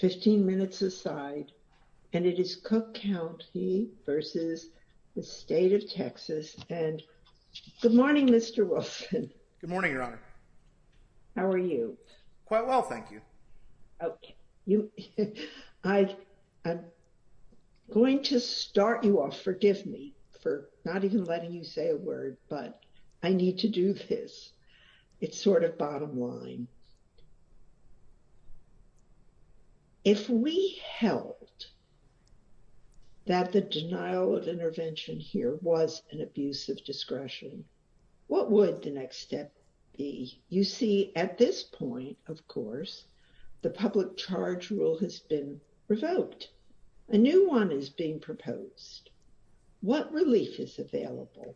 15 minutes aside and it is Cook County versus the State of Texas and good morning Mr. Wilson. Good morning your honor. How are you? Quite well thank you. Okay you I I'm going to start you off forgive me for not even letting you say a word but I need to do this. It's sort of bottom line. If we held that the denial of intervention here was an abuse of discretion what would the next step be? You see at this point of course the public charge rule has been revoked. A relief is available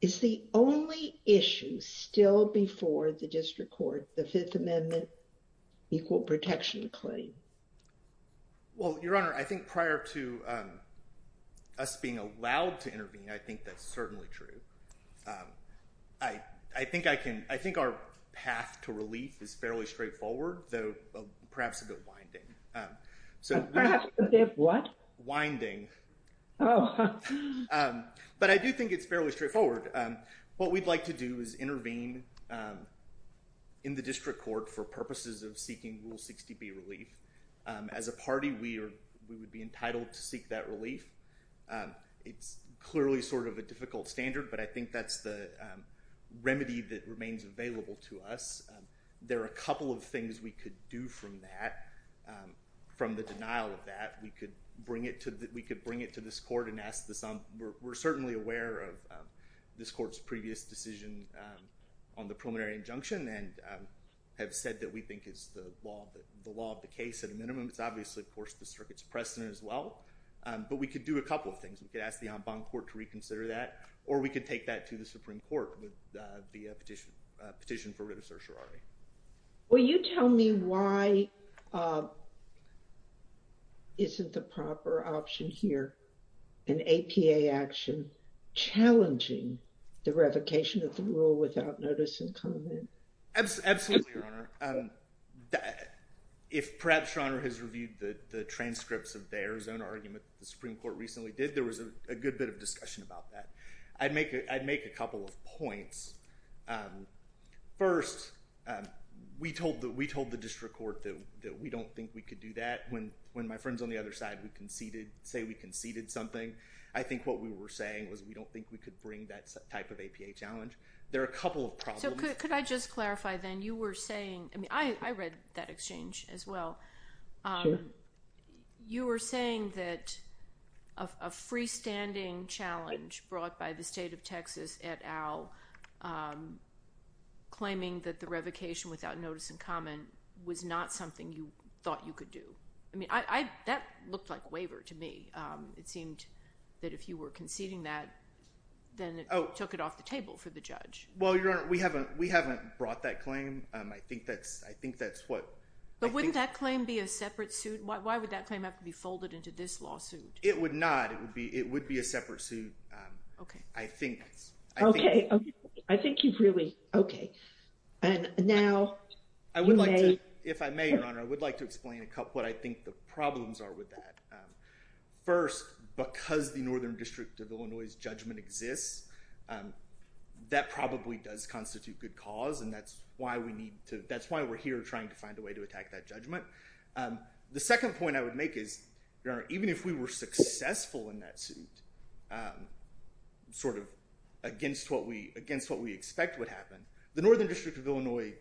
is the only issue still before the district court the Fifth Amendment equal protection claim. Well your honor I think prior to us being allowed to intervene I think that's certainly true. I I think I can I think our path to relief is fairly straightforward though perhaps a bit winding but I do think it's fairly straightforward. What we'd like to do is intervene in the district court for purposes of seeking Rule 60B relief. As a party we are we would be entitled to seek that relief. It's clearly sort of a difficult standard but I think that's the remedy that remains available to us. There are a couple of things we could do from that from the denial of that we could bring it to that we could bring it to this court and ask this um we're certainly aware of this court's previous decision on the preliminary injunction and have said that we think it's the law the law of the case at a minimum. It's obviously of course the circuit's precedent as well but we could do a couple of things. We could ask the en banc court to reconsider that or we could take that to the Supreme Court with the petition petition for writ of certiorari. Will you tell me why isn't the proper option here an APA action challenging the revocation of the rule without notice and comment? Absolutely, Your Honor. If perhaps Your Honor has reviewed the transcripts of their own argument the Supreme Court recently did there was a good bit of discussion about that. I'd make it I'd First, we told that we told the district court that we don't think we could do that when when my friends on the other side we conceded say we conceded something. I think what we were saying was we don't think we could bring that type of APA challenge. There are a couple of problems. Could I just clarify then you were saying I mean I read that exchange as well. You were saying that a freestanding challenge brought by the state of Texas et al. claiming that the revocation without notice and comment was not something you thought you could do. I mean I that looked like waiver to me. It seemed that if you were conceding that then it took it off the table for the judge. Well, Your Honor, we haven't we haven't brought that claim. I think that's I think that's what. But wouldn't that claim be a separate suit? Why would that claim have to be folded into this it would be a separate suit. Okay. I think. Okay. I think you've really. Okay. And now. I would like to if I may, Your Honor, I would like to explain a couple what I think the problems are with that. First, because the Northern District of Illinois judgment exists that probably does constitute good cause and that's why we need to that's why we're here trying to find a way to attack that judgment. The second point I would make is even if we were successful in that suit, sort of against what we against what we expect would happen, the Northern District of Illinois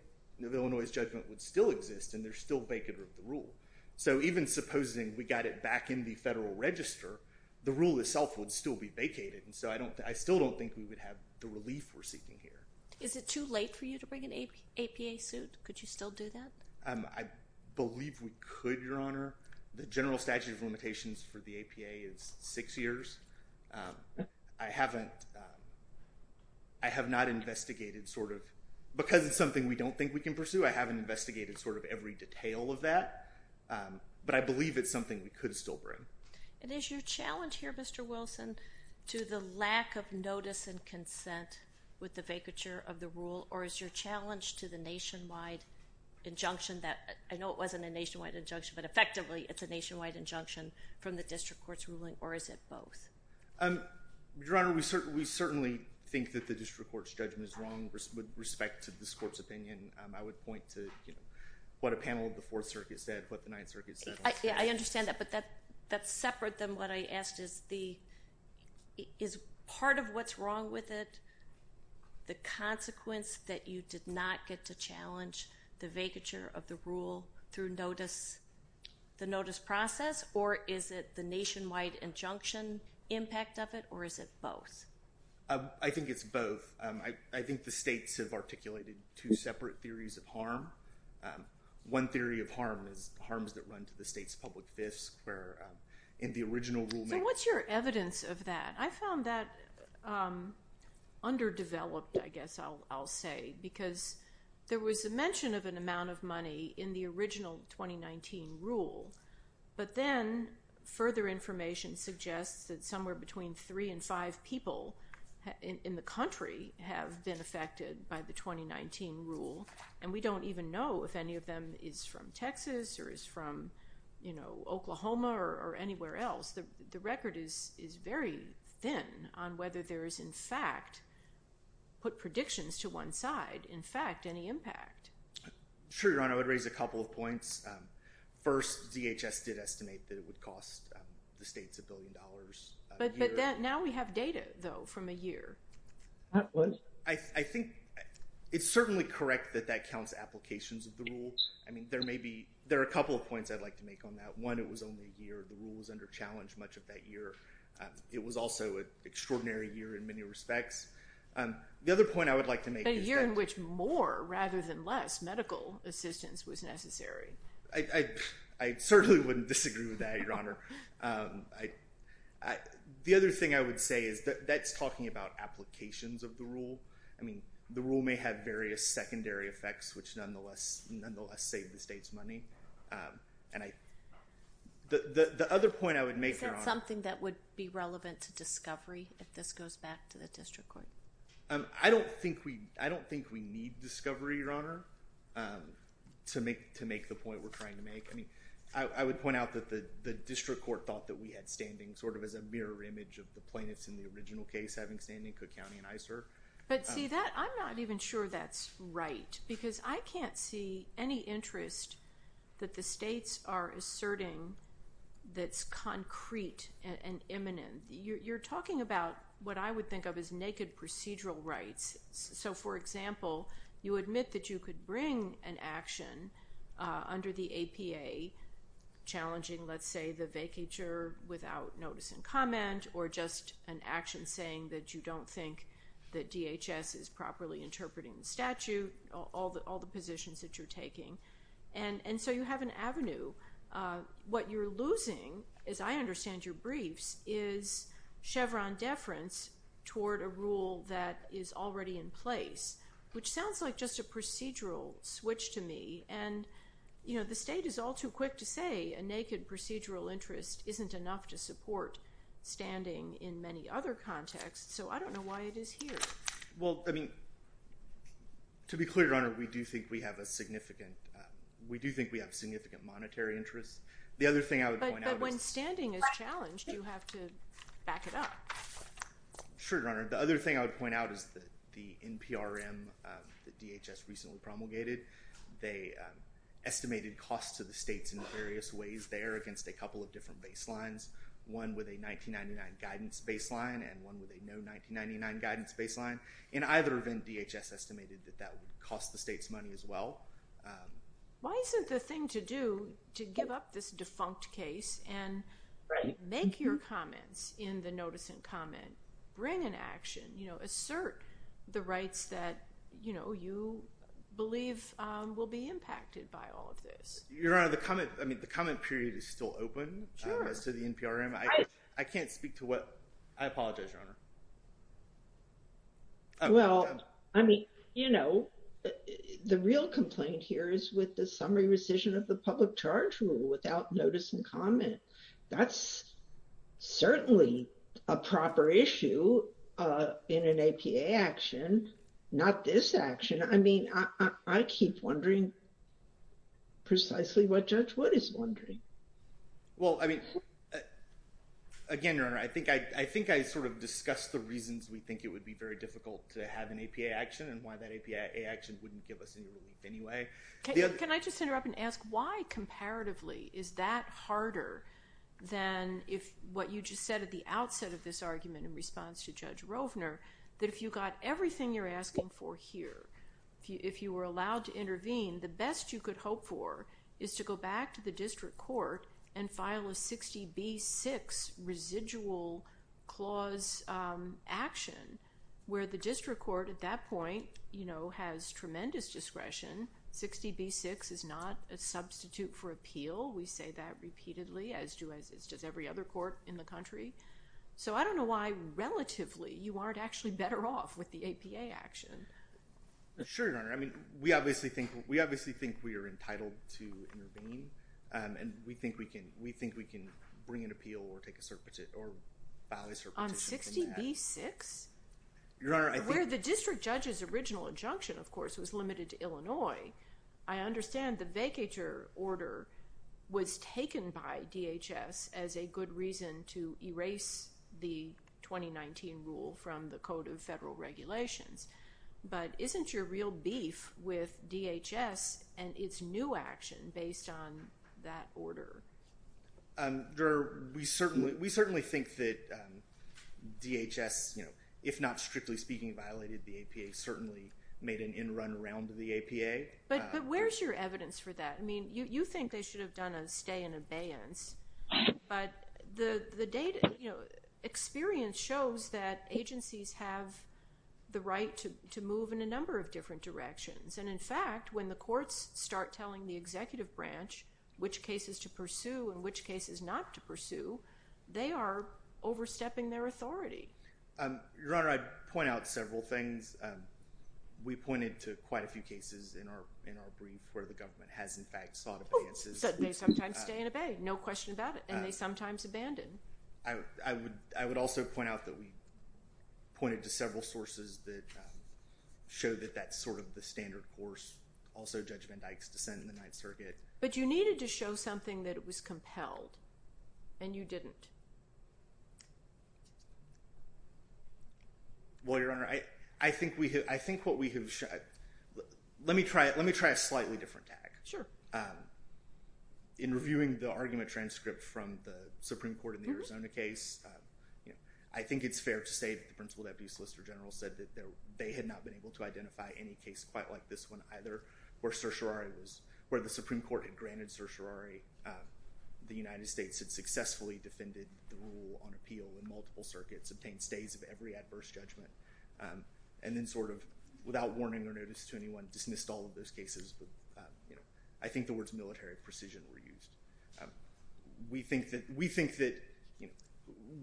of Illinois judgment would still exist and they're still vacant of the rule. So even supposing we got it back in the Federal Register, the rule itself would still be vacated and so I don't I still don't think we would have the relief we're seeking here. Is it too late for you to bring an APA suit? Could you still do that? I believe we could, Your Honor. The I haven't I have not investigated sort of because it's something we don't think we can pursue. I haven't investigated sort of every detail of that, but I believe it's something we could still bring. And is your challenge here, Mr. Wilson, to the lack of notice and consent with the vacature of the rule or is your challenge to the nationwide injunction that I know it wasn't a nationwide injunction but effectively it's a nationwide injunction from the District Court? Your Honor, we certainly think that the District Court's judgment is wrong with respect to this court's opinion. I would point to what a panel of the Fourth Circuit said, what the Ninth Circuit said. I understand that, but that that's separate than what I asked is the is part of what's wrong with it the consequence that you did not get to challenge the vacature of the rule through notice the notice process or is it the nationwide injunction that impact of it or is it both? I think it's both. I think the states have articulated two separate theories of harm. One theory of harm is harms that run to the state's public fisc where in the original rule. So what's your evidence of that? I found that underdeveloped, I guess I'll say, because there was a mention of an amount of money in the original 2019 rule, but then further information suggests that somewhere between three and five people in the country have been affected by the 2019 rule and we don't even know if any of them is from Texas or is from, you know, Oklahoma or anywhere else. The record is is very thin on whether there is in fact put predictions to one side in fact any impact. Sure, Your Honor, I would raise a couple of points. First, DHS did cost the states a billion dollars. But now we have data, though, from a year. I think it's certainly correct that that counts applications of the rule. I mean there may be, there are a couple of points I'd like to make on that. One, it was only a year. The rule was under challenge much of that year. It was also an extraordinary year in many respects. The other point I would like to make. A year in which more rather than less medical assistance was necessary. I certainly wouldn't disagree with that, Your Honor. The other thing I would say is that that's talking about applications of the rule. I mean the rule may have various secondary effects which nonetheless save the state's money. The other point I would make. Is that something that would be relevant to discovery if this goes back to the district court? I don't think we, I don't think we need discovery, Your Honor, to make the point we're trying to I would point out that the the district court thought that we had standing sort of as a mirror image of the plaintiffs in the original case having standing Cook County and ICER. But see that, I'm not even sure that's right because I can't see any interest that the states are asserting that's concrete and imminent. You're talking about what I would think of as naked procedural rights. So for example, you admit that you could bring an action under the APA challenging, let's say, the vacatur without notice and comment or just an action saying that you don't think that DHS is properly interpreting the statute, all the positions that you're taking. And so you have an avenue. What you're losing, as I understand your briefs, is Chevron deference toward a rule that is already in place. Which sounds like just a procedural switch to me. And, you know, the state is all too quick to say a naked procedural interest isn't enough to support standing in many other contexts. So I don't know why it is here. Well, I mean, to be clear, Your Honor, we do think we have a significant, we do think we have significant monetary interest. The other thing I would point out is But when standing is challenged, you have to back it up. Sure, Your Honor. The other thing I would point out is that there is a estimated cost to the states in various ways there against a couple of different baselines. One with a 1999 guidance baseline and one with a no 1999 guidance baseline. In either event, DHS estimated that that would cost the state's money as well. Why isn't the thing to do to give up this defunct case and make your comments in the notice and comment, bring an action, you know, assert the rights that, you know, you believe will be impacted by all of this? Your Honor, the comment, I mean, the comment period is still open as to the NPRM. I can't speak to what, I apologize, Your Honor. Well, I mean, you know, the real complaint here is with the summary rescission of the public charge rule without notice and comment. That's certainly a proper issue in an APA action, not this action. I mean, I keep wondering precisely what Judge Wood is wondering. Well, I mean, again, Your Honor, I think I sort of discussed the reasons we think it would be very difficult to have an APA action and why that APA action wouldn't give us any relief anyway. Can I just interrupt and ask why comparatively is that harder than if what you said at the outset of this argument in response to Judge Rovner that if you got everything you're asking for here, if you were allowed to intervene, the best you could hope for is to go back to the district court and file a 60B6 residual clause action where the district court at that point, you know, has tremendous discretion. 60B6 is not a substitute for appeal. We say that repeatedly as does every other court in the country. So I don't know why relatively you aren't actually better off with the APA action. Sure, Your Honor. I mean, we obviously think we are entitled to intervene and we think we can bring an appeal or file a cert petition. On 60B6? Your Honor, I think... Where the district judge's original injunction, of course, was limited to Illinois, I understand the vacatur order was taken by DHS as a good reason to erase the 2019 rule from the Code of Federal Regulations. But isn't your real beef with DHS and its new action based on that order? Your Honor, we certainly think that DHS, you know, if not strictly speaking violated the APA, certainly made an in-run around the APA. But where's your evidence for that? I mean, you think they should have done a stay in abeyance. But the data, you know, experience shows that agencies have the right to move in a number of different directions. And in fact, when the courts start telling the executive branch which cases to pursue and which cases not to pursue, we pointed to quite a few cases in our brief where the government has, in fact, sought abeyances. They sometimes stay and obey, no question about it. And they sometimes abandon. I would also point out that we pointed to several sources that show that that's sort of the standard course. Also, Judge Van Dyke's dissent in the Ninth Circuit. But you needed to show something that was compelled. And you didn't. Well, Your Honor, I think what we have, let me try a slightly different tack. Sure. In reviewing the argument transcript from the Supreme Court in the Arizona case, I think it's fair to say that the principal deputy solicitor general said that they had not been able to identify any case quite like this one either where certiorari was, where the Supreme Court had granted certiorari. The United States had successfully defended the rule on appeal in multiple circuits, obtained stays of every adverse judgment, and then sort of, without warning or notice to anyone, dismissed all of those cases. I think the words military precision were used. We think that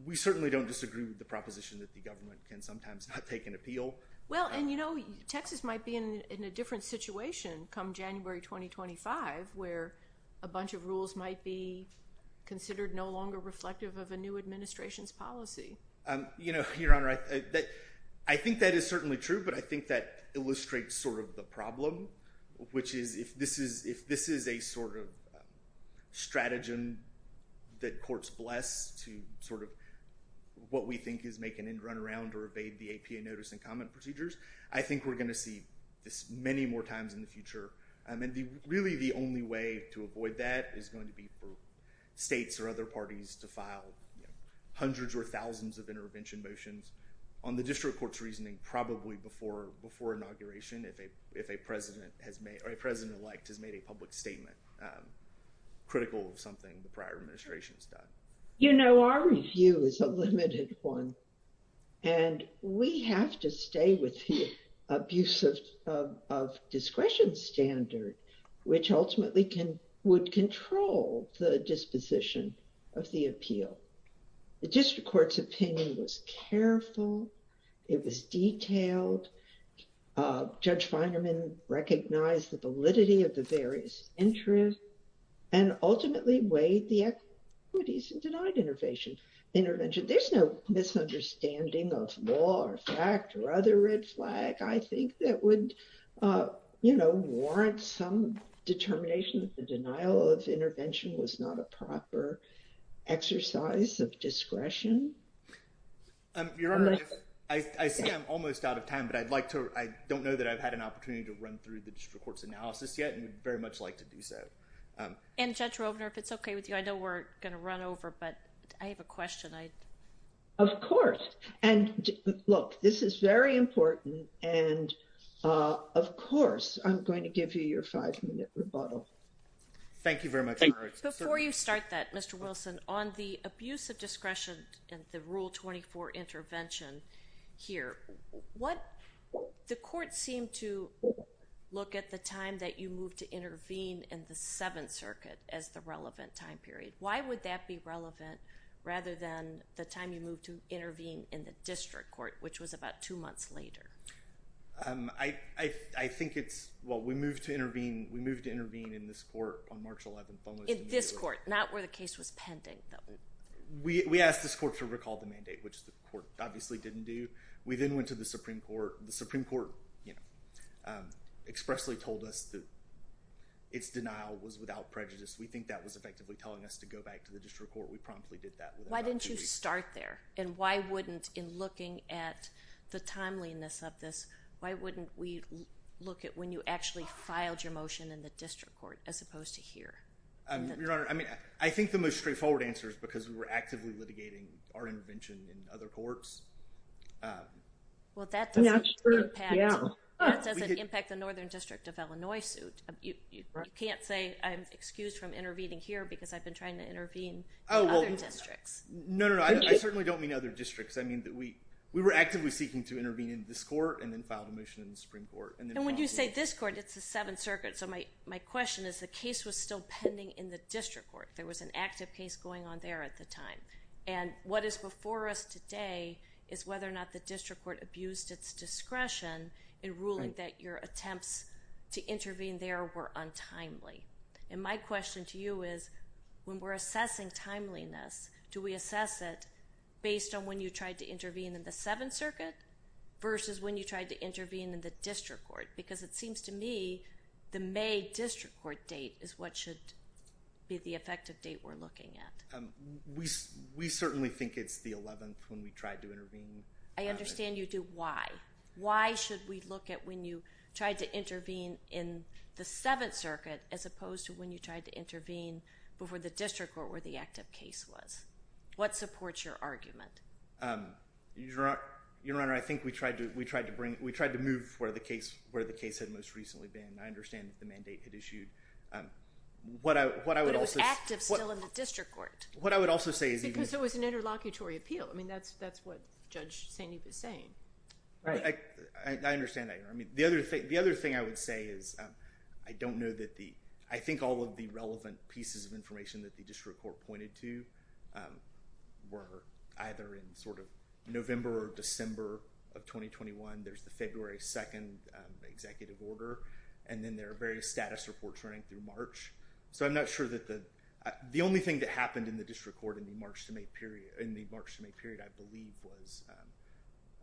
we certainly don't disagree with the proposition that the government can sometimes not take an appeal. Well, and you know, Texas might be in a different situation come January 2025 where a bunch of rules might be considered no longer reflective of a new administration's policy. You know, Your Honor, I think that is certainly true. But I think that illustrates sort of the problem, which is if this is a sort of stratagem that courts bless to sort of what we think is making it run around or evade the APA notice and comment procedures, I think we're going to see this many more times in the future. And really the only way to avoid that is going to be for states or other parties to file hundreds or thousands of intervention motions on the district court's reasoning probably before inauguration if a president has made, or a president-elect has made a public statement critical of something the prior administration has done. You know, our review is a limited one, and we have to stay with the abuse of discretion standard, which ultimately would control the disposition of the appeal. The district court's opinion was careful. It was detailed. Judge Feinerman recognized the validity of the various entries and ultimately weighed the equities and denied intervention. There's no misunderstanding of law or fact or other red flag, I think, that would, you know, warrant some determination that the denial of intervention was not a proper exercise of discretion. Your Honor, I see I'm almost out of time, but I'd like to, I don't know that I've had an opportunity to run through the district court's analysis yet, and I'd very much like to do so. And Judge Rovner, if it's okay with you, I know we're going to run over, but I have a question. Of course, and look, this is very important, and of course I'm going to give you your five-minute rebuttal. Thank you very much, Your Honor. Before you start that, Mr. Wilson, on the abuse of discretion and the Rule 24 intervention here, what, the court seemed to look at the time that you moved to intervene in the Seventh Circuit as the relevant time period. Why would that be relevant rather than the time you moved to intervene in the district court, which was about two months later? I think it's, well, we moved to intervene, we moved to intervene in this court on March 11th. In this court, not where the case was pending. We asked this court to recall the mandate, which the court obviously didn't do. We then went to the Supreme Court. The Supreme Court, you know, expressly told us that its denial was without prejudice. We think that was effectively telling us to go back to the district court. We promptly did that. Why didn't you start there, and why wouldn't, in looking at the timeliness of this, why wouldn't we look at when you actually motion in the district court as opposed to here? Your Honor, I mean, I think the most straightforward answer is because we were actively litigating our intervention in other courts. Well, that doesn't impact the Northern District of Illinois suit. You can't say I'm excused from intervening here because I've been trying to intervene in other districts. No, no, no. I certainly don't mean other districts. I mean, we were actively seeking to intervene in this court and then filed a motion in the Supreme Court. And when you say this court, it's the Seventh Circuit. So my question is the case was still pending in the district court. There was an active case going on there at the time. And what is before us today is whether or not the district court abused its discretion in ruling that your attempts to intervene there were untimely. And my question to you is, when we're assessing timeliness, do we assess it based on when you tried to intervene in the district court? Because it seems to me the May district court date is what should be the effective date we're looking at. We certainly think it's the 11th when we tried to intervene. I understand you do. Why? Why should we look at when you tried to intervene in the Seventh Circuit as opposed to when you tried to intervene before the district court where the active case was? What supports your argument? Your Honor, I think we tried to move where the case had most recently been. I understand that the mandate had issued. But it was active still in the district court. What I would also say is... Because it was an interlocutory appeal. I mean, that's what Judge St. Eve is saying. Right. I understand that, Your Honor. I mean, the other thing I would say is I don't know that the... I think all of the relevant pieces of information that the district court pointed to were either in sort of November or December of 2021. There's the February 2nd executive order. And then there are various status reports running through March. So I'm not sure that the... The only thing that happened in the district court in the March to May period, I believe was...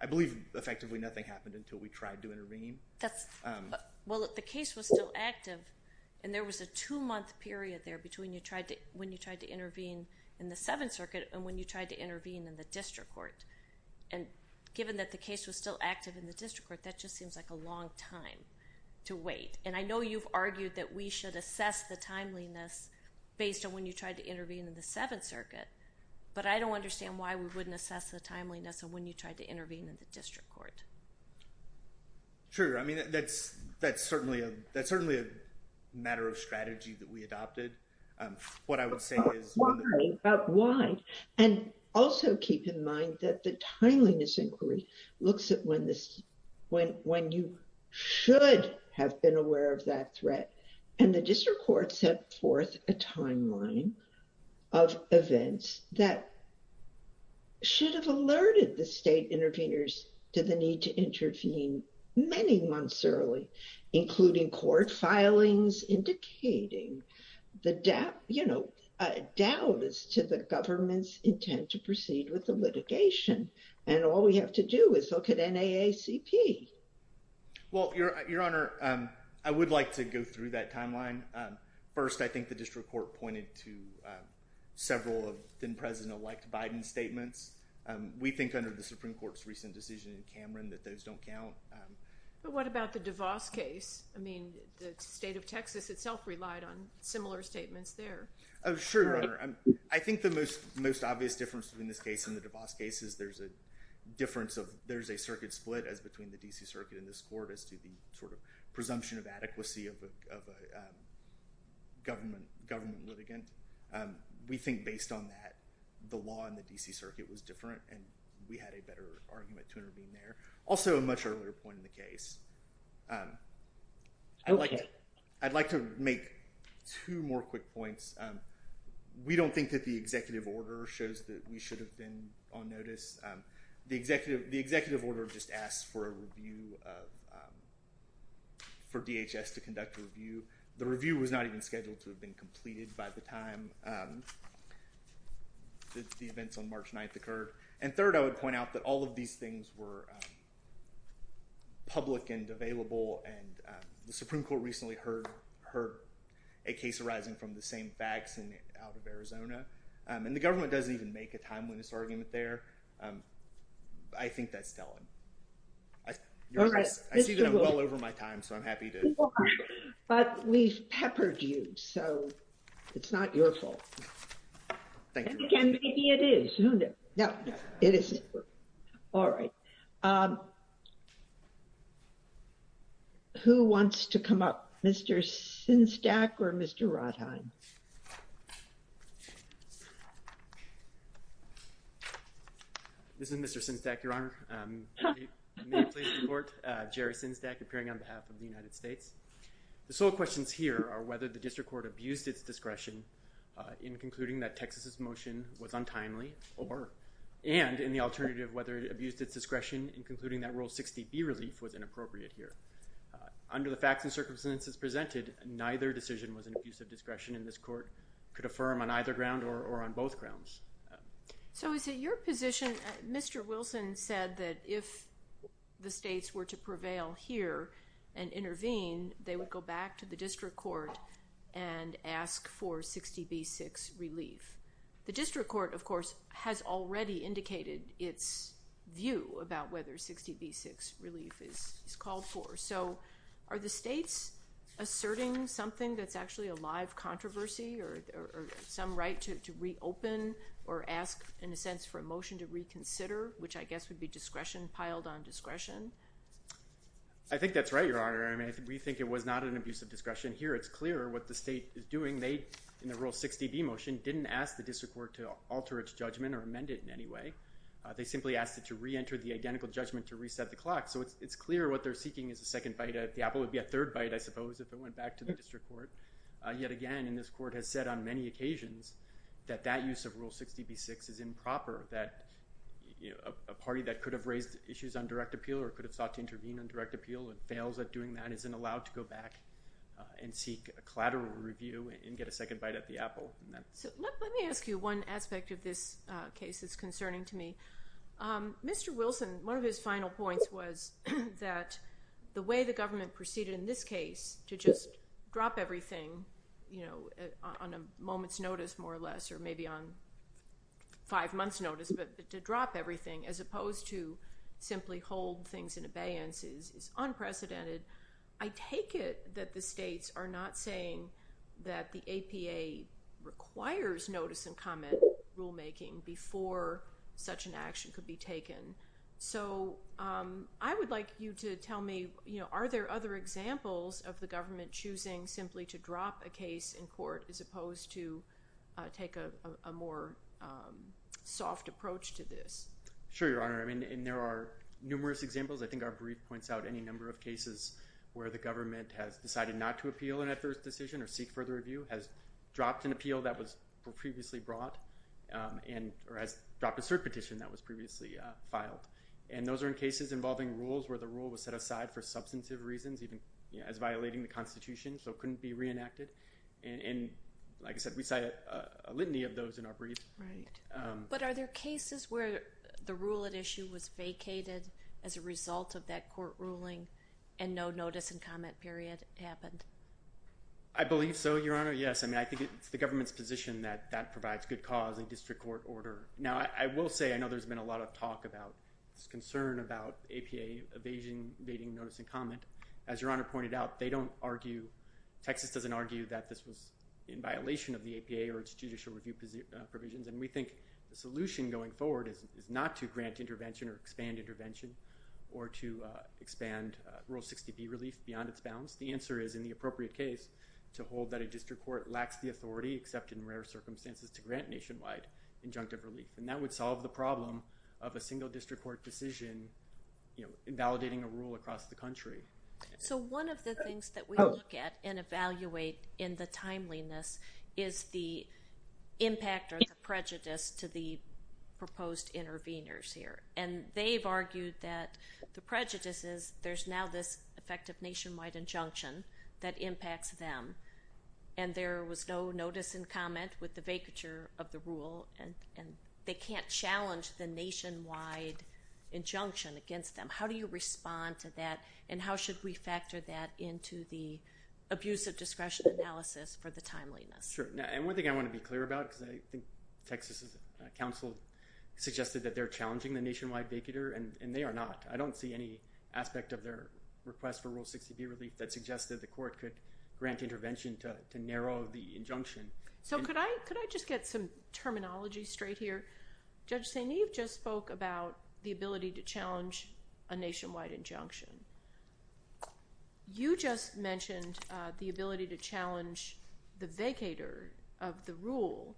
I believe effectively nothing happened until we tried to intervene. That's... Well, the case was still active. And there was a two-month period there between when you tried to intervene in the Seventh Circuit and when you tried to intervene in the district court. And given that the case was still active in the district court, that just seems like a long time to wait. And I know you've argued that we should assess the timeliness based on when you tried to intervene in the Seventh Circuit. But I don't understand why we wouldn't assess the timeliness of when you tried to intervene in the district court. Sure. I mean, that's certainly a matter of strategy that we adopted. What I would say is... But why? And also keep in mind that the timeliness inquiry looks at when this... When you should have been aware of that threat. And the district court set forth a timeline of events that should have alerted the state interveners to the need to intervene many months early, including court filings indicating the doubt as to the government's intent to proceed with the litigation. And all we have to do is look at NAACP. Well, Your Honor, I would like to go through that timeline. First, I think the district court pointed to several of then-President-elect Biden's statements. We think under the Supreme Court's recent decision in Cameron that those don't count. But what about the DeVos case? I mean, the state of Texas itself relied on similar statements there. Oh, sure, Your Honor. I think the most obvious difference between this case and the DeVos case is there's a difference of... There's a circuit split as between the D.C. Circuit and this court as to the sort of presumption of adequacy of a government litigant. We think based on that, the law in the D.C. Circuit was different, and we had a better argument to intervene there. Also, a much earlier point in the case. I'd like to make two more quick points. We don't think that the executive order shows that we should have been on notice. The executive order just asks for a review of... For DHS to conduct a review. The review was not even scheduled to have been completed by the time the events on March 9th occurred. And third, I would point out that all of these things were public and available, and the Supreme Court recently heard a case arising from the same facts out of Arizona. And the government doesn't even a timeliness argument there. I think that's telling. I see that I'm well over my time, so I'm happy to... But we've peppered you, so it's not your fault. Thank you. And maybe it is. Who knows? No, it isn't. All right. Who wants to come up? Mr. Sinzdak or Mr. Rothheim? This is Mr. Sinzdak, Your Honor. May I please report? Jerry Sinzdak, appearing on behalf of the United States. The sole questions here are whether the district court abused its discretion in concluding that Texas's motion was untimely, and in the alternative, whether it abused its discretion in concluding that Rule 60B relief was inappropriate here. Under the facts and circumstances presented, neither decision was an abuse of discretion, and this court could affirm on either ground or on both grounds. So is it your position, Mr. Wilson said that if the states were to prevail here and intervene, they would go back to the district court and ask for 60B6 relief. The district court, of course, has already indicated its view about whether 60B6 relief is called for. So are the states asserting something that's actually a live controversy or some right to reopen or ask, in a sense, for a motion to reconsider, which I guess would be piled on discretion? I think that's right, Your Honor. I mean, we think it was not an abuse of discretion. The district court, in the Rule 60B motion, didn't ask the district court to alter its judgment or amend it in any way. They simply asked it to reenter the identical judgment to reset the clock. So it's clear what they're seeking is a second bite. The apple would be a third bite, I suppose, if it went back to the district court. Yet again, and this court has said on many occasions that that use of Rule 60B6 is improper, that a party that could have raised issues on direct appeal or could have sought to intervene on direct appeal and fails at doing that isn't allowed to go back and seek a collateral review and get a second bite at the apple. So let me ask you one aspect of this case that's concerning to me. Mr. Wilson, one of his final points was that the way the government proceeded in this case to just drop everything, you know, on a moment's notice, more or less, or maybe on five months notice, but to drop everything as opposed to simply hold things in abeyance is unprecedented. I take it that the states are not saying that the APA requires notice and comment rulemaking before such an action could be taken. So I would like you to tell me, you know, are there other examples of the government choosing simply to drop a case in court as opposed to take a more soft approach to this? Sure, Your Honor. I mean, there are numerous examples. I think our brief points out any number of cases where the government has decided not to appeal an adverse decision or seek further review, has dropped an appeal that was previously brought, or has dropped a cert petition that was previously filed. And those are in cases involving rules where the rule was set aside for substantive reasons, even as violating the Constitution, so it couldn't be reenacted. And like I said, we cite a litany of those in our briefs. But are there cases where the rule at issue was vacated as a result of that court ruling and no notice and comment period happened? I believe so, Your Honor. Yes, I mean, I think it's the government's position that that provides good cause in district court order. Now, I will say, I know there's been a lot of talk about this concern about APA evading notice and comment. As Your Honor pointed out, they don't argue, Texas doesn't argue that this was in violation of the APA or its judicial review provisions. And we think the solution going forward is not to grant intervention or expand intervention, or to expand Rule 60B relief beyond its bounds. The answer is, in the appropriate case, to hold that a district court lacks the authority, except in rare circumstances, to grant nationwide injunctive relief. And that would solve the problem of a single district court decision, you know, invalidating a rule across the country. So one of the things that we look at and evaluate in the timeliness is the impact or the prejudice to the proposed interveners here. And they've argued that the prejudice is there's now this effective nationwide injunction that impacts them, and there was no notice and comment with the vacature of the rule, and they can't challenge the nationwide injunction against them. How do you respond to that, and how should we factor that into the abuse of discretion analysis for the timeliness? Sure. And one thing I want to be clear about, because I think Texas' counsel suggested that they're challenging the nationwide vacature, and they are not. I don't see any aspect of their request for Rule 60B relief that suggests that the court could grant intervention to narrow the injunction. So could I just get some terminology straight here? Judge St. Eve just spoke about the ability to challenge a nationwide injunction. You just mentioned the ability to challenge the vacator of the rule,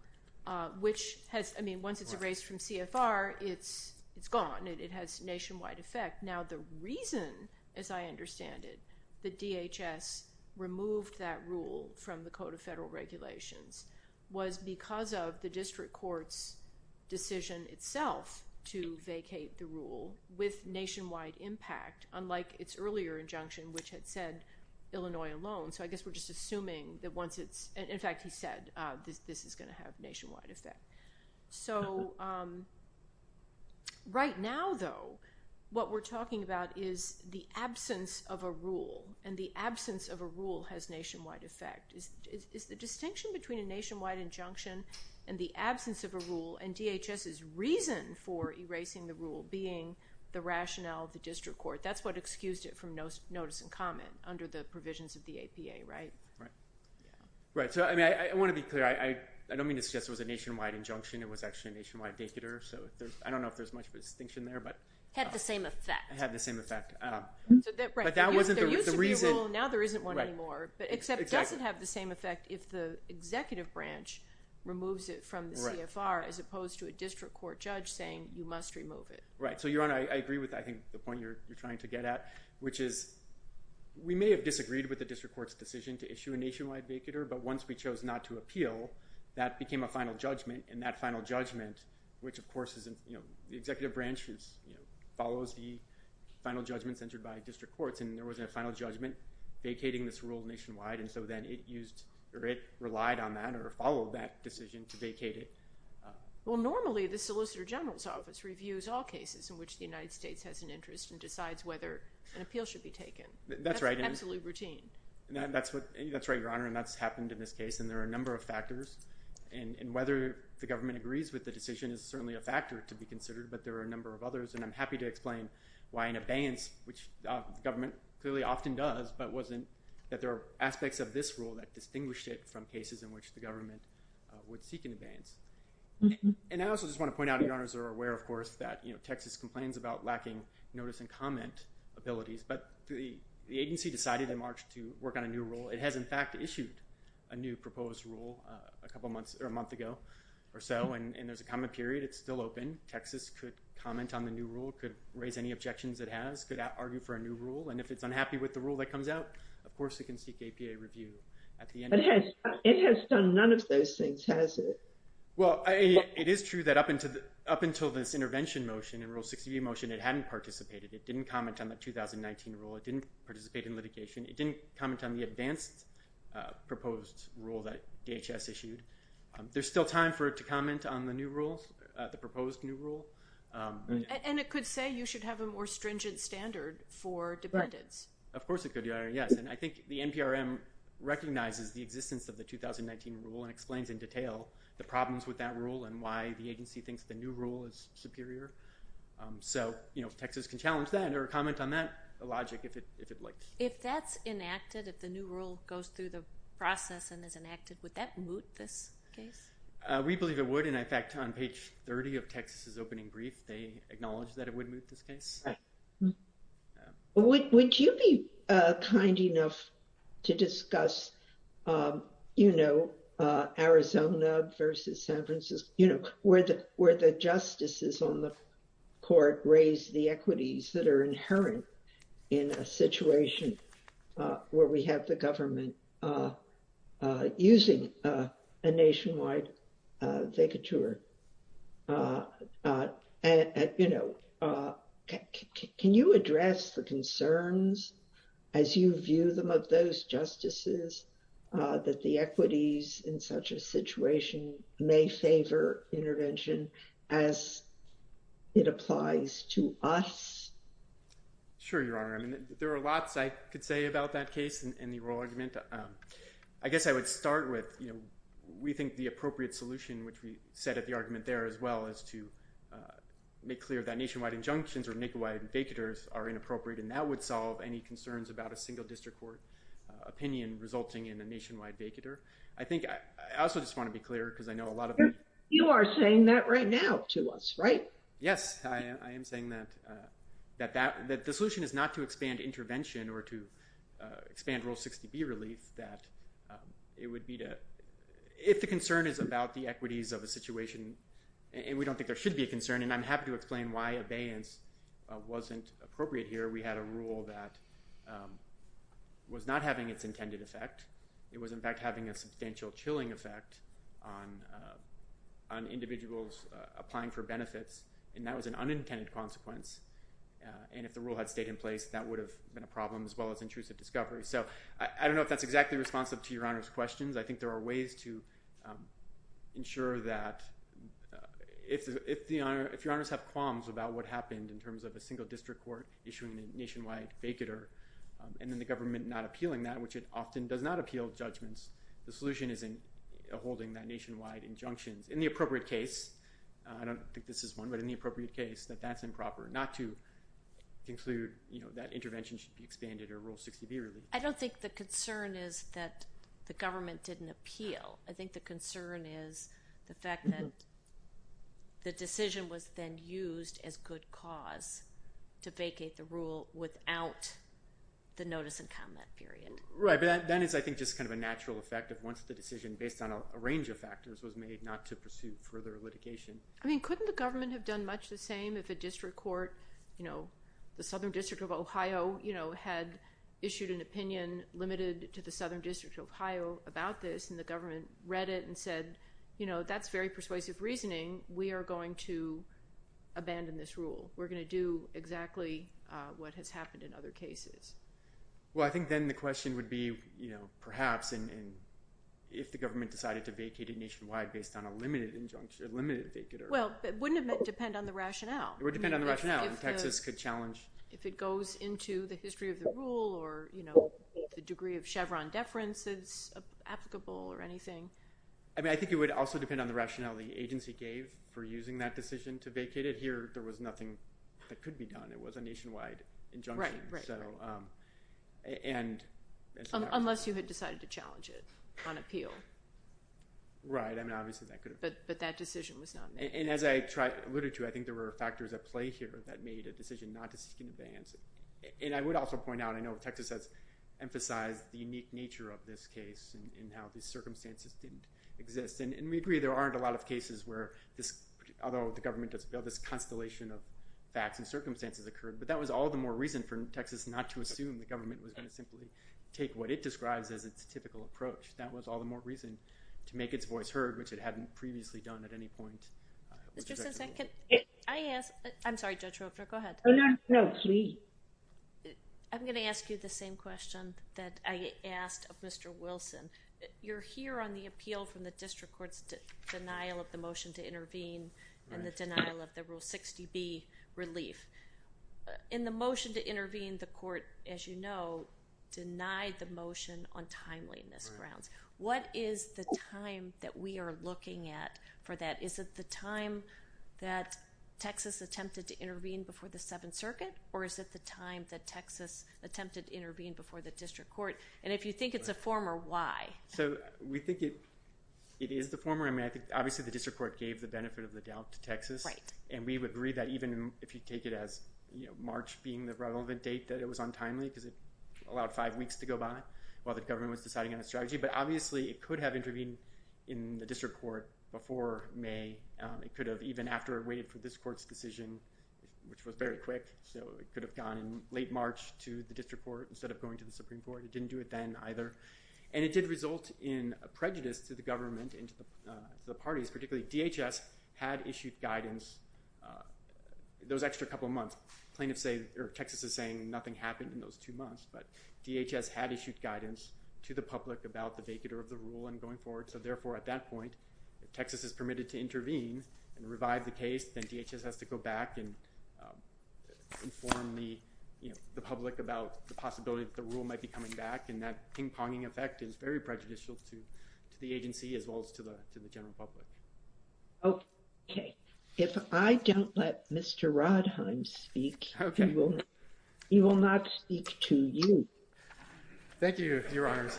which has, I mean, once it's erased from CFR, it's gone, and it has nationwide effect. Now, the reason, as I understand it, that DHS removed that rule from the Code of Federal Regulations was because of the district court's decision itself to vacate the rule with nationwide impact, unlike its earlier injunction, which had said, Illinois alone. So I guess we're just assuming that once it's, in fact, he said this is going to have nationwide effect. So right now, though, what we're talking about is the absence of a rule, and the absence of a rule has nationwide effect. It's the distinction between a nationwide injunction and the absence of a rule, and DHS's reason for erasing the rule being the rationale of the district court. That's what excused it from notice and comment under the provisions of the APA, right? Right. So I want to be clear. I don't mean to suggest it was a nationwide injunction. It was actually a nationwide vacator. So I don't know if there's much of a distinction there. Had the same effect. Had the same effect, but that wasn't the reason. Now there isn't one anymore, but except it doesn't have the same effect if the executive branch removes it from the CFR as opposed to a district court judge saying, you must remove it. Right. So, Your Honor, I agree with, I think, the point you're trying to get at, which is we may have disagreed with the district court's decision to issue a nationwide vacator, but once we chose not to appeal, that became a final judgment, and that final judgment, which of course isn't, you know, the executive branch follows the final judgments entered by district courts, and there wasn't a final judgment vacating this rule nationwide, and so then it relied on that or followed that decision to vacate it. Well, normally the Solicitor General's Office reviews all cases in which the United States has an interest and decides whether an appeal should be taken. That's absolutely routine. That's right, Your Honor, and that's happened in this case, and there are a number of factors and whether the government agrees with the decision is certainly a factor to be considered, but there are a number of others, and I'm happy to explain why an abeyance, which the government clearly often does, but wasn't, that there are aspects of this rule that distinguished it from cases in which the government would seek an abeyance, and I also just want to point out, Your Honors are aware, of course, that, you know, Texas complains about lacking notice and comment abilities, but the agency decided in March to work on a new rule. It has, in fact, issued a new proposed rule a couple months or a month ago or so, and there's a comment period. It's still open. Texas could comment on the new rule, could raise any objections it has, could argue for a new rule, and if it's unhappy with the rule that comes out, of course, it can seek APA review at the end. It has done none of those things, has it? Well, it is true that up until this intervention motion and Rule 60b motion, it hadn't participated. It didn't comment on the 2019 rule. It didn't participate in litigation. It didn't comment on the advanced proposed rule that DHS issued. There's still time for it to comment on the new rule, the proposed new rule. And it could say you should have a more stringent standard for dependents. Of course it could, Your Honor, yes, and I think the NPRM recognizes the existence of the 2019 rule and explains in detail the problems with that rule and why the agency thinks the new rule is superior. So, you know, Texas can challenge that or comment on that logic if it likes. If that's enacted, if the new rule goes through the process and is enacted, would that moot this case? We believe it would, and in fact, on page 30 of Texas's opening brief, they acknowledged that it would moot this case. Would you be kind enough to discuss, you know, Arizona versus San Francisco, you know, where the justices on the court raise the equities that are where we have the government using a nationwide vacature? And, you know, can you address the concerns as you view them of those justices that the equities in such a situation may favor intervention as it applies to us? Sure, Your Honor. I mean, there are lots I could say about that case in the oral argument. I guess I would start with, you know, we think the appropriate solution which we set at the argument there as well as to make clear that nationwide injunctions or nationwide vacatures are inappropriate and that would solve any concerns about a single district court opinion resulting in a nationwide vacature. I think I also just want to be clear because I know a lot of... You are saying that right now to us, right? Yes, I am saying that the solution is not to expand intervention or to expand Rule 60B relief, that it would be to... If the concern is about the equities of a situation, and we don't think there should be a concern, and I'm happy to explain why abeyance wasn't appropriate here. We had a rule that was not having its intended effect. It was, in fact, having a substantial chilling effect on individuals applying for benefits, and that was an unintended consequence, and if the rule had stayed in place, that would have been a problem as well as intrusive discovery. So I don't know if that's exactly responsive to Your Honor's questions. I think there are ways to ensure that if Your Honors have qualms about what happened in terms of a single district court issuing a nationwide vacature and then the government not appealing that, which it often does not appeal judgments, the solution is in holding that nationwide injunctions in the appropriate case. I don't think this is one, but in the appropriate case that that's improper, not to conclude that intervention should be expanded or Rule 60B relief. I don't think the concern is that the government didn't appeal. I think the concern is the fact that the decision was then I think just kind of a natural effect of once the decision based on a range of factors was made not to pursue further litigation. I mean, couldn't the government have done much the same if a district court, you know, the Southern District of Ohio, you know, had issued an opinion limited to the Southern District of Ohio about this and the government read it and said, you know, that's very persuasive reasoning. We are going to abandon this rule. We're going to do exactly what has perhaps if the government decided to vacate it nationwide based on a limited injunction, limited vacater. Well, it wouldn't depend on the rationale. It would depend on the rationale. Texas could challenge. If it goes into the history of the rule or, you know, the degree of Chevron deference is applicable or anything. I mean, I think it would also depend on the rationale the agency gave for using that decision to vacate it. Here, there was nothing that could be done. It was nationwide injunction. Unless you had decided to challenge it on appeal. Right. I mean, obviously that could have. But that decision was not made. And as I alluded to, I think there were factors at play here that made a decision not to seek an advance. And I would also point out, I know Texas has emphasized the unique nature of this case and how these circumstances didn't exist. And we agree there aren't a lot of cases where, although the government does this constellation of facts and circumstances occurred, but that was all the more reason for Texas not to assume the government was going to simply take what it describes as its typical approach. That was all the more reason to make its voice heard, which it hadn't previously done at any point. Mr. Sensen, can I ask, I'm sorry, Judge Roper, go ahead. No, no, please. I'm going to ask you the same question that I asked of Mr. Wilson. You're here on the appeal from the 60B relief. In the motion to intervene, the court, as you know, denied the motion on timeliness grounds. What is the time that we are looking at for that? Is it the time that Texas attempted to intervene before the Seventh Circuit? Or is it the time that Texas attempted to intervene before the district court? And if you think it's a former, why? So we think it is the former. I obviously the district court gave the benefit of the doubt to Texas. And we would agree that even if you take it as March being the relevant date that it was untimely because it allowed five weeks to go by while the government was deciding on a strategy. But obviously it could have intervened in the district court before May. It could have even after it waited for this court's decision, which was very quick. So it could have gone in late March to the district court instead of going to the Supreme Court. It didn't do it then either. And it did result in a prejudice to the government and to the parties, particularly DHS had issued guidance those extra couple of months. Texas is saying nothing happened in those two months. But DHS had issued guidance to the public about the vacatur of the rule and going forward. So therefore, at that point, if Texas is permitted to intervene and revive the case, then DHS has to go back and inform the public about the possibility that the rule might be coming back. And that ping-ponging effect is very prejudicial to the agency as well as to the general public. Okay. If I don't let Mr. Rodheim speak, he will not speak to you. Thank you, Your Honors.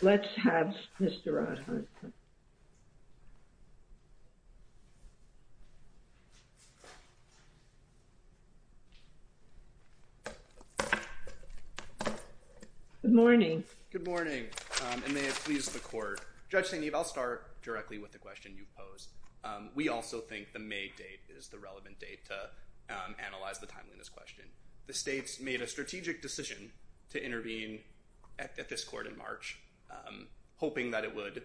Let's have Mr. Rodheim. Good morning. Good morning. And may it please the court. Judge St. Eve, I'll start directly with the question you posed. We also think the May date is the relevant date to analyze the timeliness question. The states made a strategic decision to intervene at this court in March, hoping that it would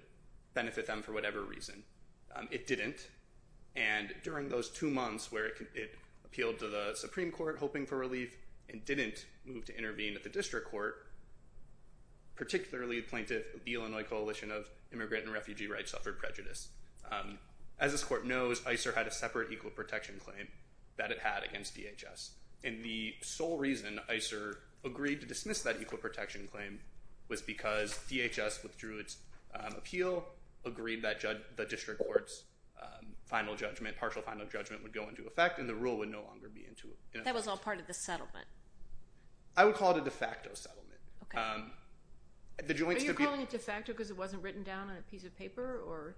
benefit them for whatever reason. It didn't. And during those two months where it appealed to the Supreme Court hoping for relief and didn't move to intervene at the district court, particularly the plaintiff of the Illinois Coalition of Immigrant and Refugee Rights suffered prejudice. As this court knows, ICER had a separate equal protection claim that it had against DHS. And the sole reason ICER agreed to dismiss that equal protection claim was because DHS withdrew its appeal, agreed that the district court's partial final judgment would go into effect, and the rule would no longer be in effect. That was all part of the settlement. I would call it a de facto settlement. Are you calling it de facto because it wasn't written down on a piece of paper?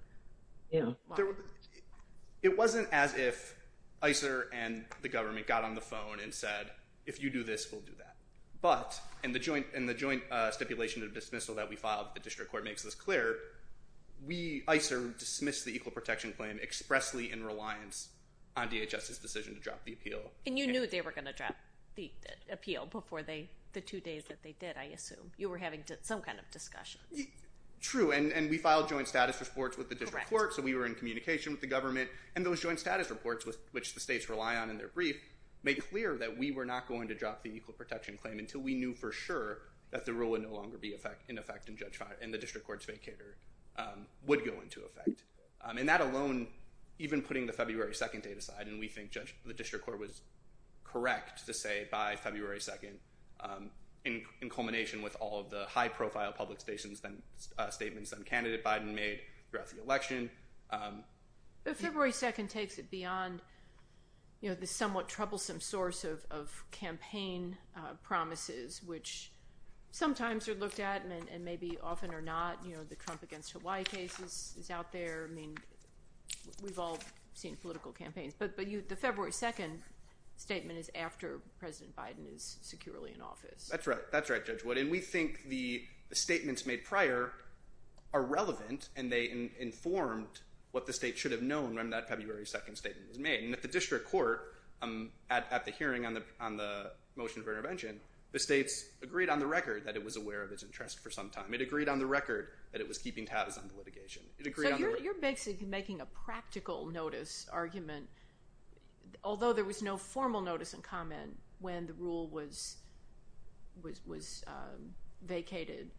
It wasn't as if ICER and the government got on the phone and said, if you do this, we'll do that. But in the joint stipulation of dismissal that we filed, the district court makes this clear, ICER dismissed the equal protection claim expressly in reliance on DHS's decision to drop the appeal. And you knew they were going to drop the appeal before the two days that they did, I assume. You were having some kind of discussion. True. And we filed joint status reports with the district court. So we were in communication with the government. And those joint status reports, which the states rely on in their brief, made clear that we were not going to drop the equal protection claim until we knew for sure that the rule would no longer be in effect and the district court's vacator would go into effect. And that alone, even putting the February 2nd date aside, and we think the district court was correct to say by February 2nd in culmination with all of the high profile public statements and candidate Biden made throughout the election. But February 2nd takes it beyond the somewhat troublesome source of campaign promises, which sometimes are looked at and maybe often are not. The Trump against Hawaii case is out there. I mean, we've all seen political campaigns. But the February 2nd statement is after President Biden is securely in office. That's right. That's right, Judge Wood. And we think the statements made prior are relevant and they informed what the state should have known when that February 2nd statement was made. And at the district court, at the hearing on the motion for intervention, the states agreed on the record that it was aware of its interest for some time. It agreed on the record that it was keeping tabs on the litigation. So you're basically making a practical notice argument. Although there was no formal notice and comment when the rule was vacated,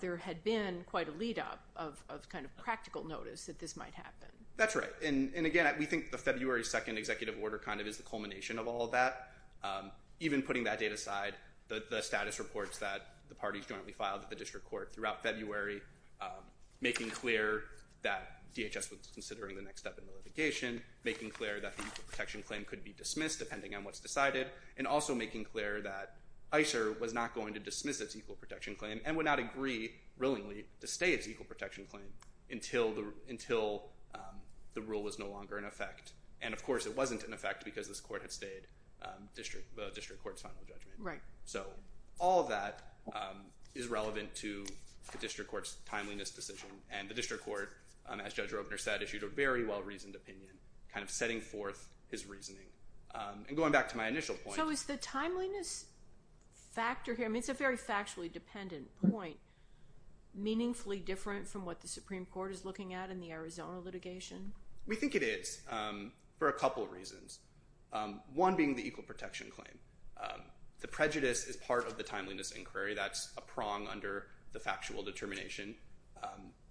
there had been quite a lead up of kind of practical notice that this might happen. That's right. And again, we think the February 2nd executive order kind of is the culmination of all of that. Even putting that date aside, the status reports that the parties jointly filed at the district court throughout February, making clear that DHS was considering the next step in the litigation, making clear that the equal protection claim could be dismissed depending on what's decided, and also making clear that ICER was not going to dismiss its equal protection claim and would not agree, willingly, to stay its equal protection claim until the rule was no longer in effect. And of course, it wasn't in effect because this court had stayed the district court's final judgment. Right. So all that is relevant to the district court's timeliness decision. And the district court, as Judge Robner said, issued a very well-reasoned opinion, kind of setting forth his reasoning. And going back to my initial point- So is the timeliness factor here, I mean it's a very factually dependent point, meaningfully different from what the Supreme Court is looking at in the Arizona litigation? We think it is, for a couple reasons. One being the equal protection claim. The prejudice is part of the timeliness inquiry, that's a prong under the factual determination.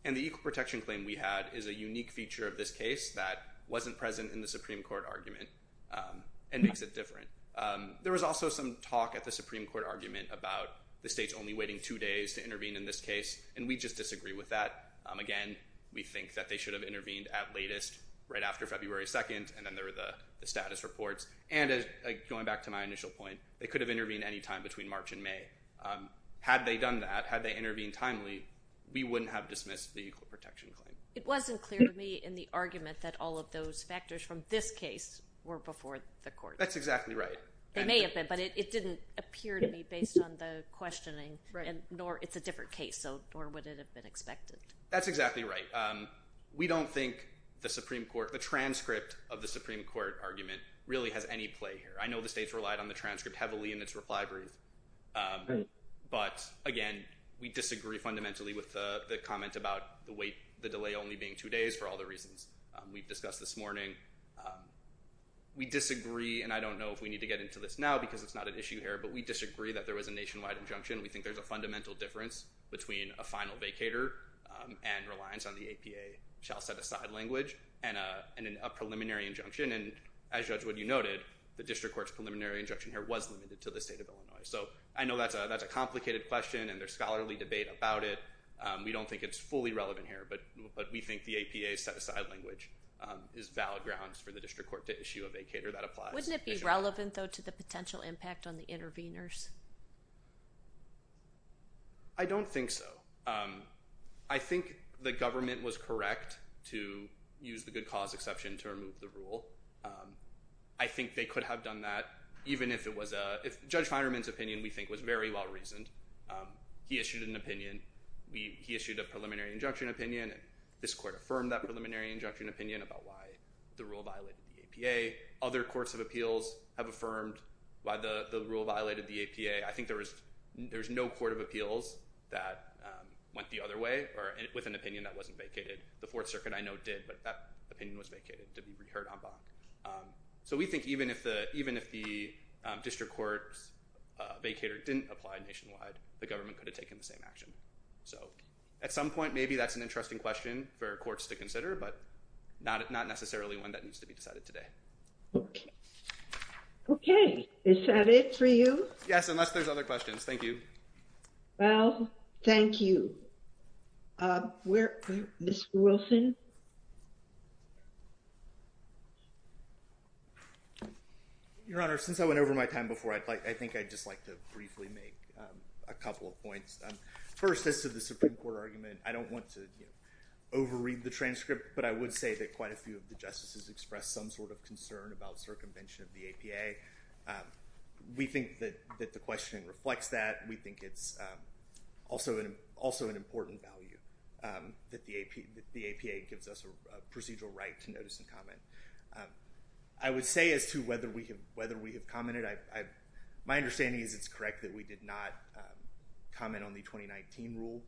And the equal protection claim we had is a unique feature of this case that wasn't present in the Supreme Court argument and makes it different. There was also some talk at the Supreme Court argument about the state's only waiting two days to intervene in this case, and we just disagree with that. Again, we think that they should have intervened at latest right after February 2nd, and then there were the status reports. And going back to my initial point, they could have intervened any time between March and May. Had they done that, had they intervened timely, we wouldn't have dismissed the equal protection claim. It wasn't clear to me in the argument that all of those factors from this case were before the court. That's exactly right. They may have been, but it didn't appear to be based on the questioning, nor it's a different case, so nor would it have been expected. That's exactly right. We don't think the transcript of the Supreme Court argument really has any play here. I know the states relied on the transcript heavily in its reply brief, but again, we disagree fundamentally with the comment about the delay only being two days for all the reasons we've discussed this morning. We disagree, and I don't know if we need to get into this now because it's not an issue here, but we disagree that there was a nationwide injunction. We think there's a APA shall set aside language and a preliminary injunction, and as Judge Wood, you noted, the district court's preliminary injunction here was limited to the state of Illinois. So I know that's a complicated question, and there's scholarly debate about it. We don't think it's fully relevant here, but we think the APA set aside language is valid grounds for the district court to issue a vacator that applies. Wouldn't it be relevant though to the potential impact on the to use the good cause exception to remove the rule? I think they could have done that, even if it was a... Judge Feinerman's opinion, we think, was very well reasoned. He issued an opinion. He issued a preliminary injunction opinion. This court affirmed that preliminary injunction opinion about why the rule violated the APA. Other courts of appeals have affirmed why the rule violated the APA. I think there was no court of appeals that went the other or with an opinion that wasn't vacated. The Fourth Circuit, I know, did, but that opinion was vacated to be reheard en banc. So we think even if the district court's vacator didn't apply nationwide, the government could have taken the same action. So at some point, maybe that's an interesting question for courts to consider, but not necessarily one that needs to be decided today. Okay. Is that it for you? Yes, unless there's other questions. Thank you. Well, thank you. Mr. Wilson? Your Honor, since I went over my time before, I think I'd just like to briefly make a couple of points. First, as to the Supreme Court argument, I don't want to overread the transcript, but I would say that quite a few of the justices expressed some sort of concern about circumvention of the APA. We think that the questioning reflects that. We think it's also an important value that the APA gives us a procedural right to notice and comment. I would say as to whether we have commented, my understanding is it's correct that we did not comment on the 2019 rule.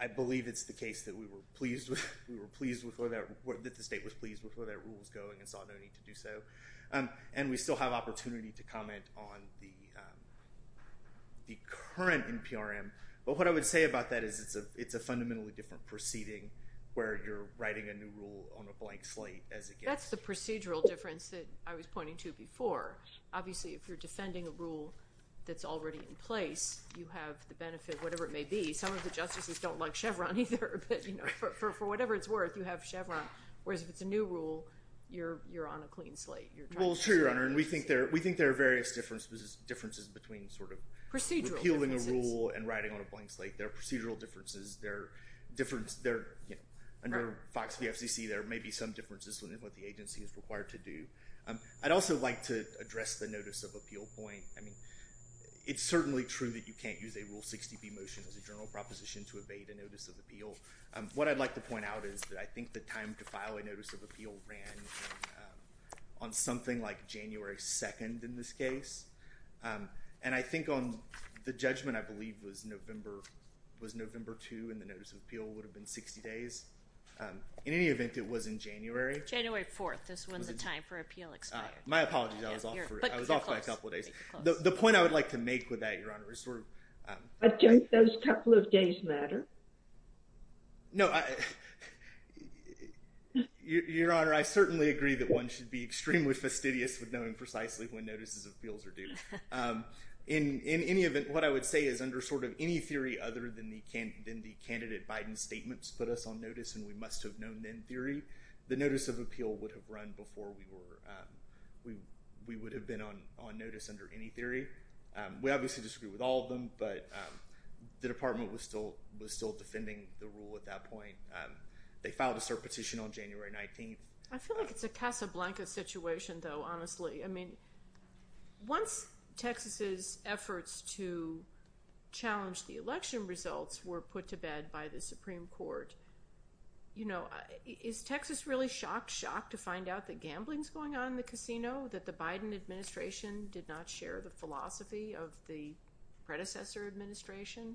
I believe it's the case that we were pleased with what that rule was going and saw no need to do so. And we still have opportunity to comment on the current NPRM. But what I would say about that is it's a fundamentally different proceeding where you're writing a new rule on a blank slate as it gets- That's the procedural difference that I was pointing to before. Obviously, if you're defending a rule that's already in place, you have the benefit, whatever it may be. Some of the justices don't like Chevron either, but for whatever it's worth, you have Chevron. Whereas if it's a new rule, you're on a clean slate. Well, it's true, Your Honor. And we think there are various differences between sort of- Procedural differences.... repealing a rule and writing on a blank slate. There are procedural differences. There are under Fox v. FCC, there may be some differences within what the agency is required to do. I'd also like to address the notice of appeal point. It's certainly true that you can't use a Rule 60b motion as a general proposition to evade a notice of appeal. What I'd like to point out is that I think the time to file a notice of appeal ran on something like January 2nd in this case. And I think on the judgment, I believe, was November 2 and the notice of appeal would have been 60 days. In any event, it was in January. January 4th is when the time for appeal expired. My apologies. I was off for a couple of days. The point I would like to make with that, Your Honor, is sort of- But don't those couple of days matter? No. Your Honor, I certainly agree that one should be extremely fastidious with knowing precisely when notices of appeals are due. In any event, what I would say is under sort of any theory other than the candidate Biden statements put us on notice and we must have known then theory, the notice of appeal would have run before we would have been on notice under any theory. We obviously disagree with all of them, but the Department was still defending the rule at that point. They filed a cert petition on January 19th. I feel like it's a casablanca situation, though, honestly. I mean, once Texas's efforts to challenge the election results were put to bed by going on in the casino, that the Biden administration did not share the philosophy of the predecessor administration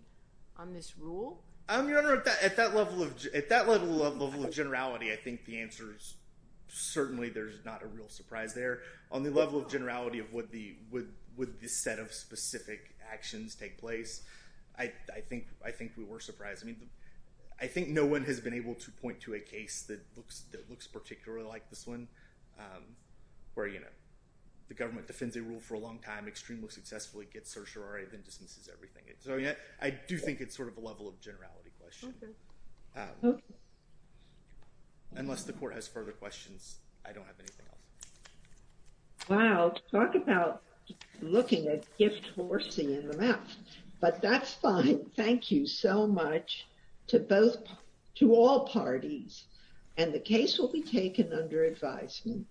on this rule? Your Honor, at that level of generality, I think the answer is certainly there's not a real surprise there. On the level of generality of would the set of specific actions take place, I think we were surprised. I mean, it looks particularly like this one where, you know, the government defends a rule for a long time, extremely successfully gets certiorari, then dismisses everything. I do think it's sort of a level of generality question. Unless the Court has further questions, I don't have anything else. Wow. Talk about looking at gift horsing in the mouth, but that's fine. Thank you so much to both, to all parties, and the case will be taken under advisement.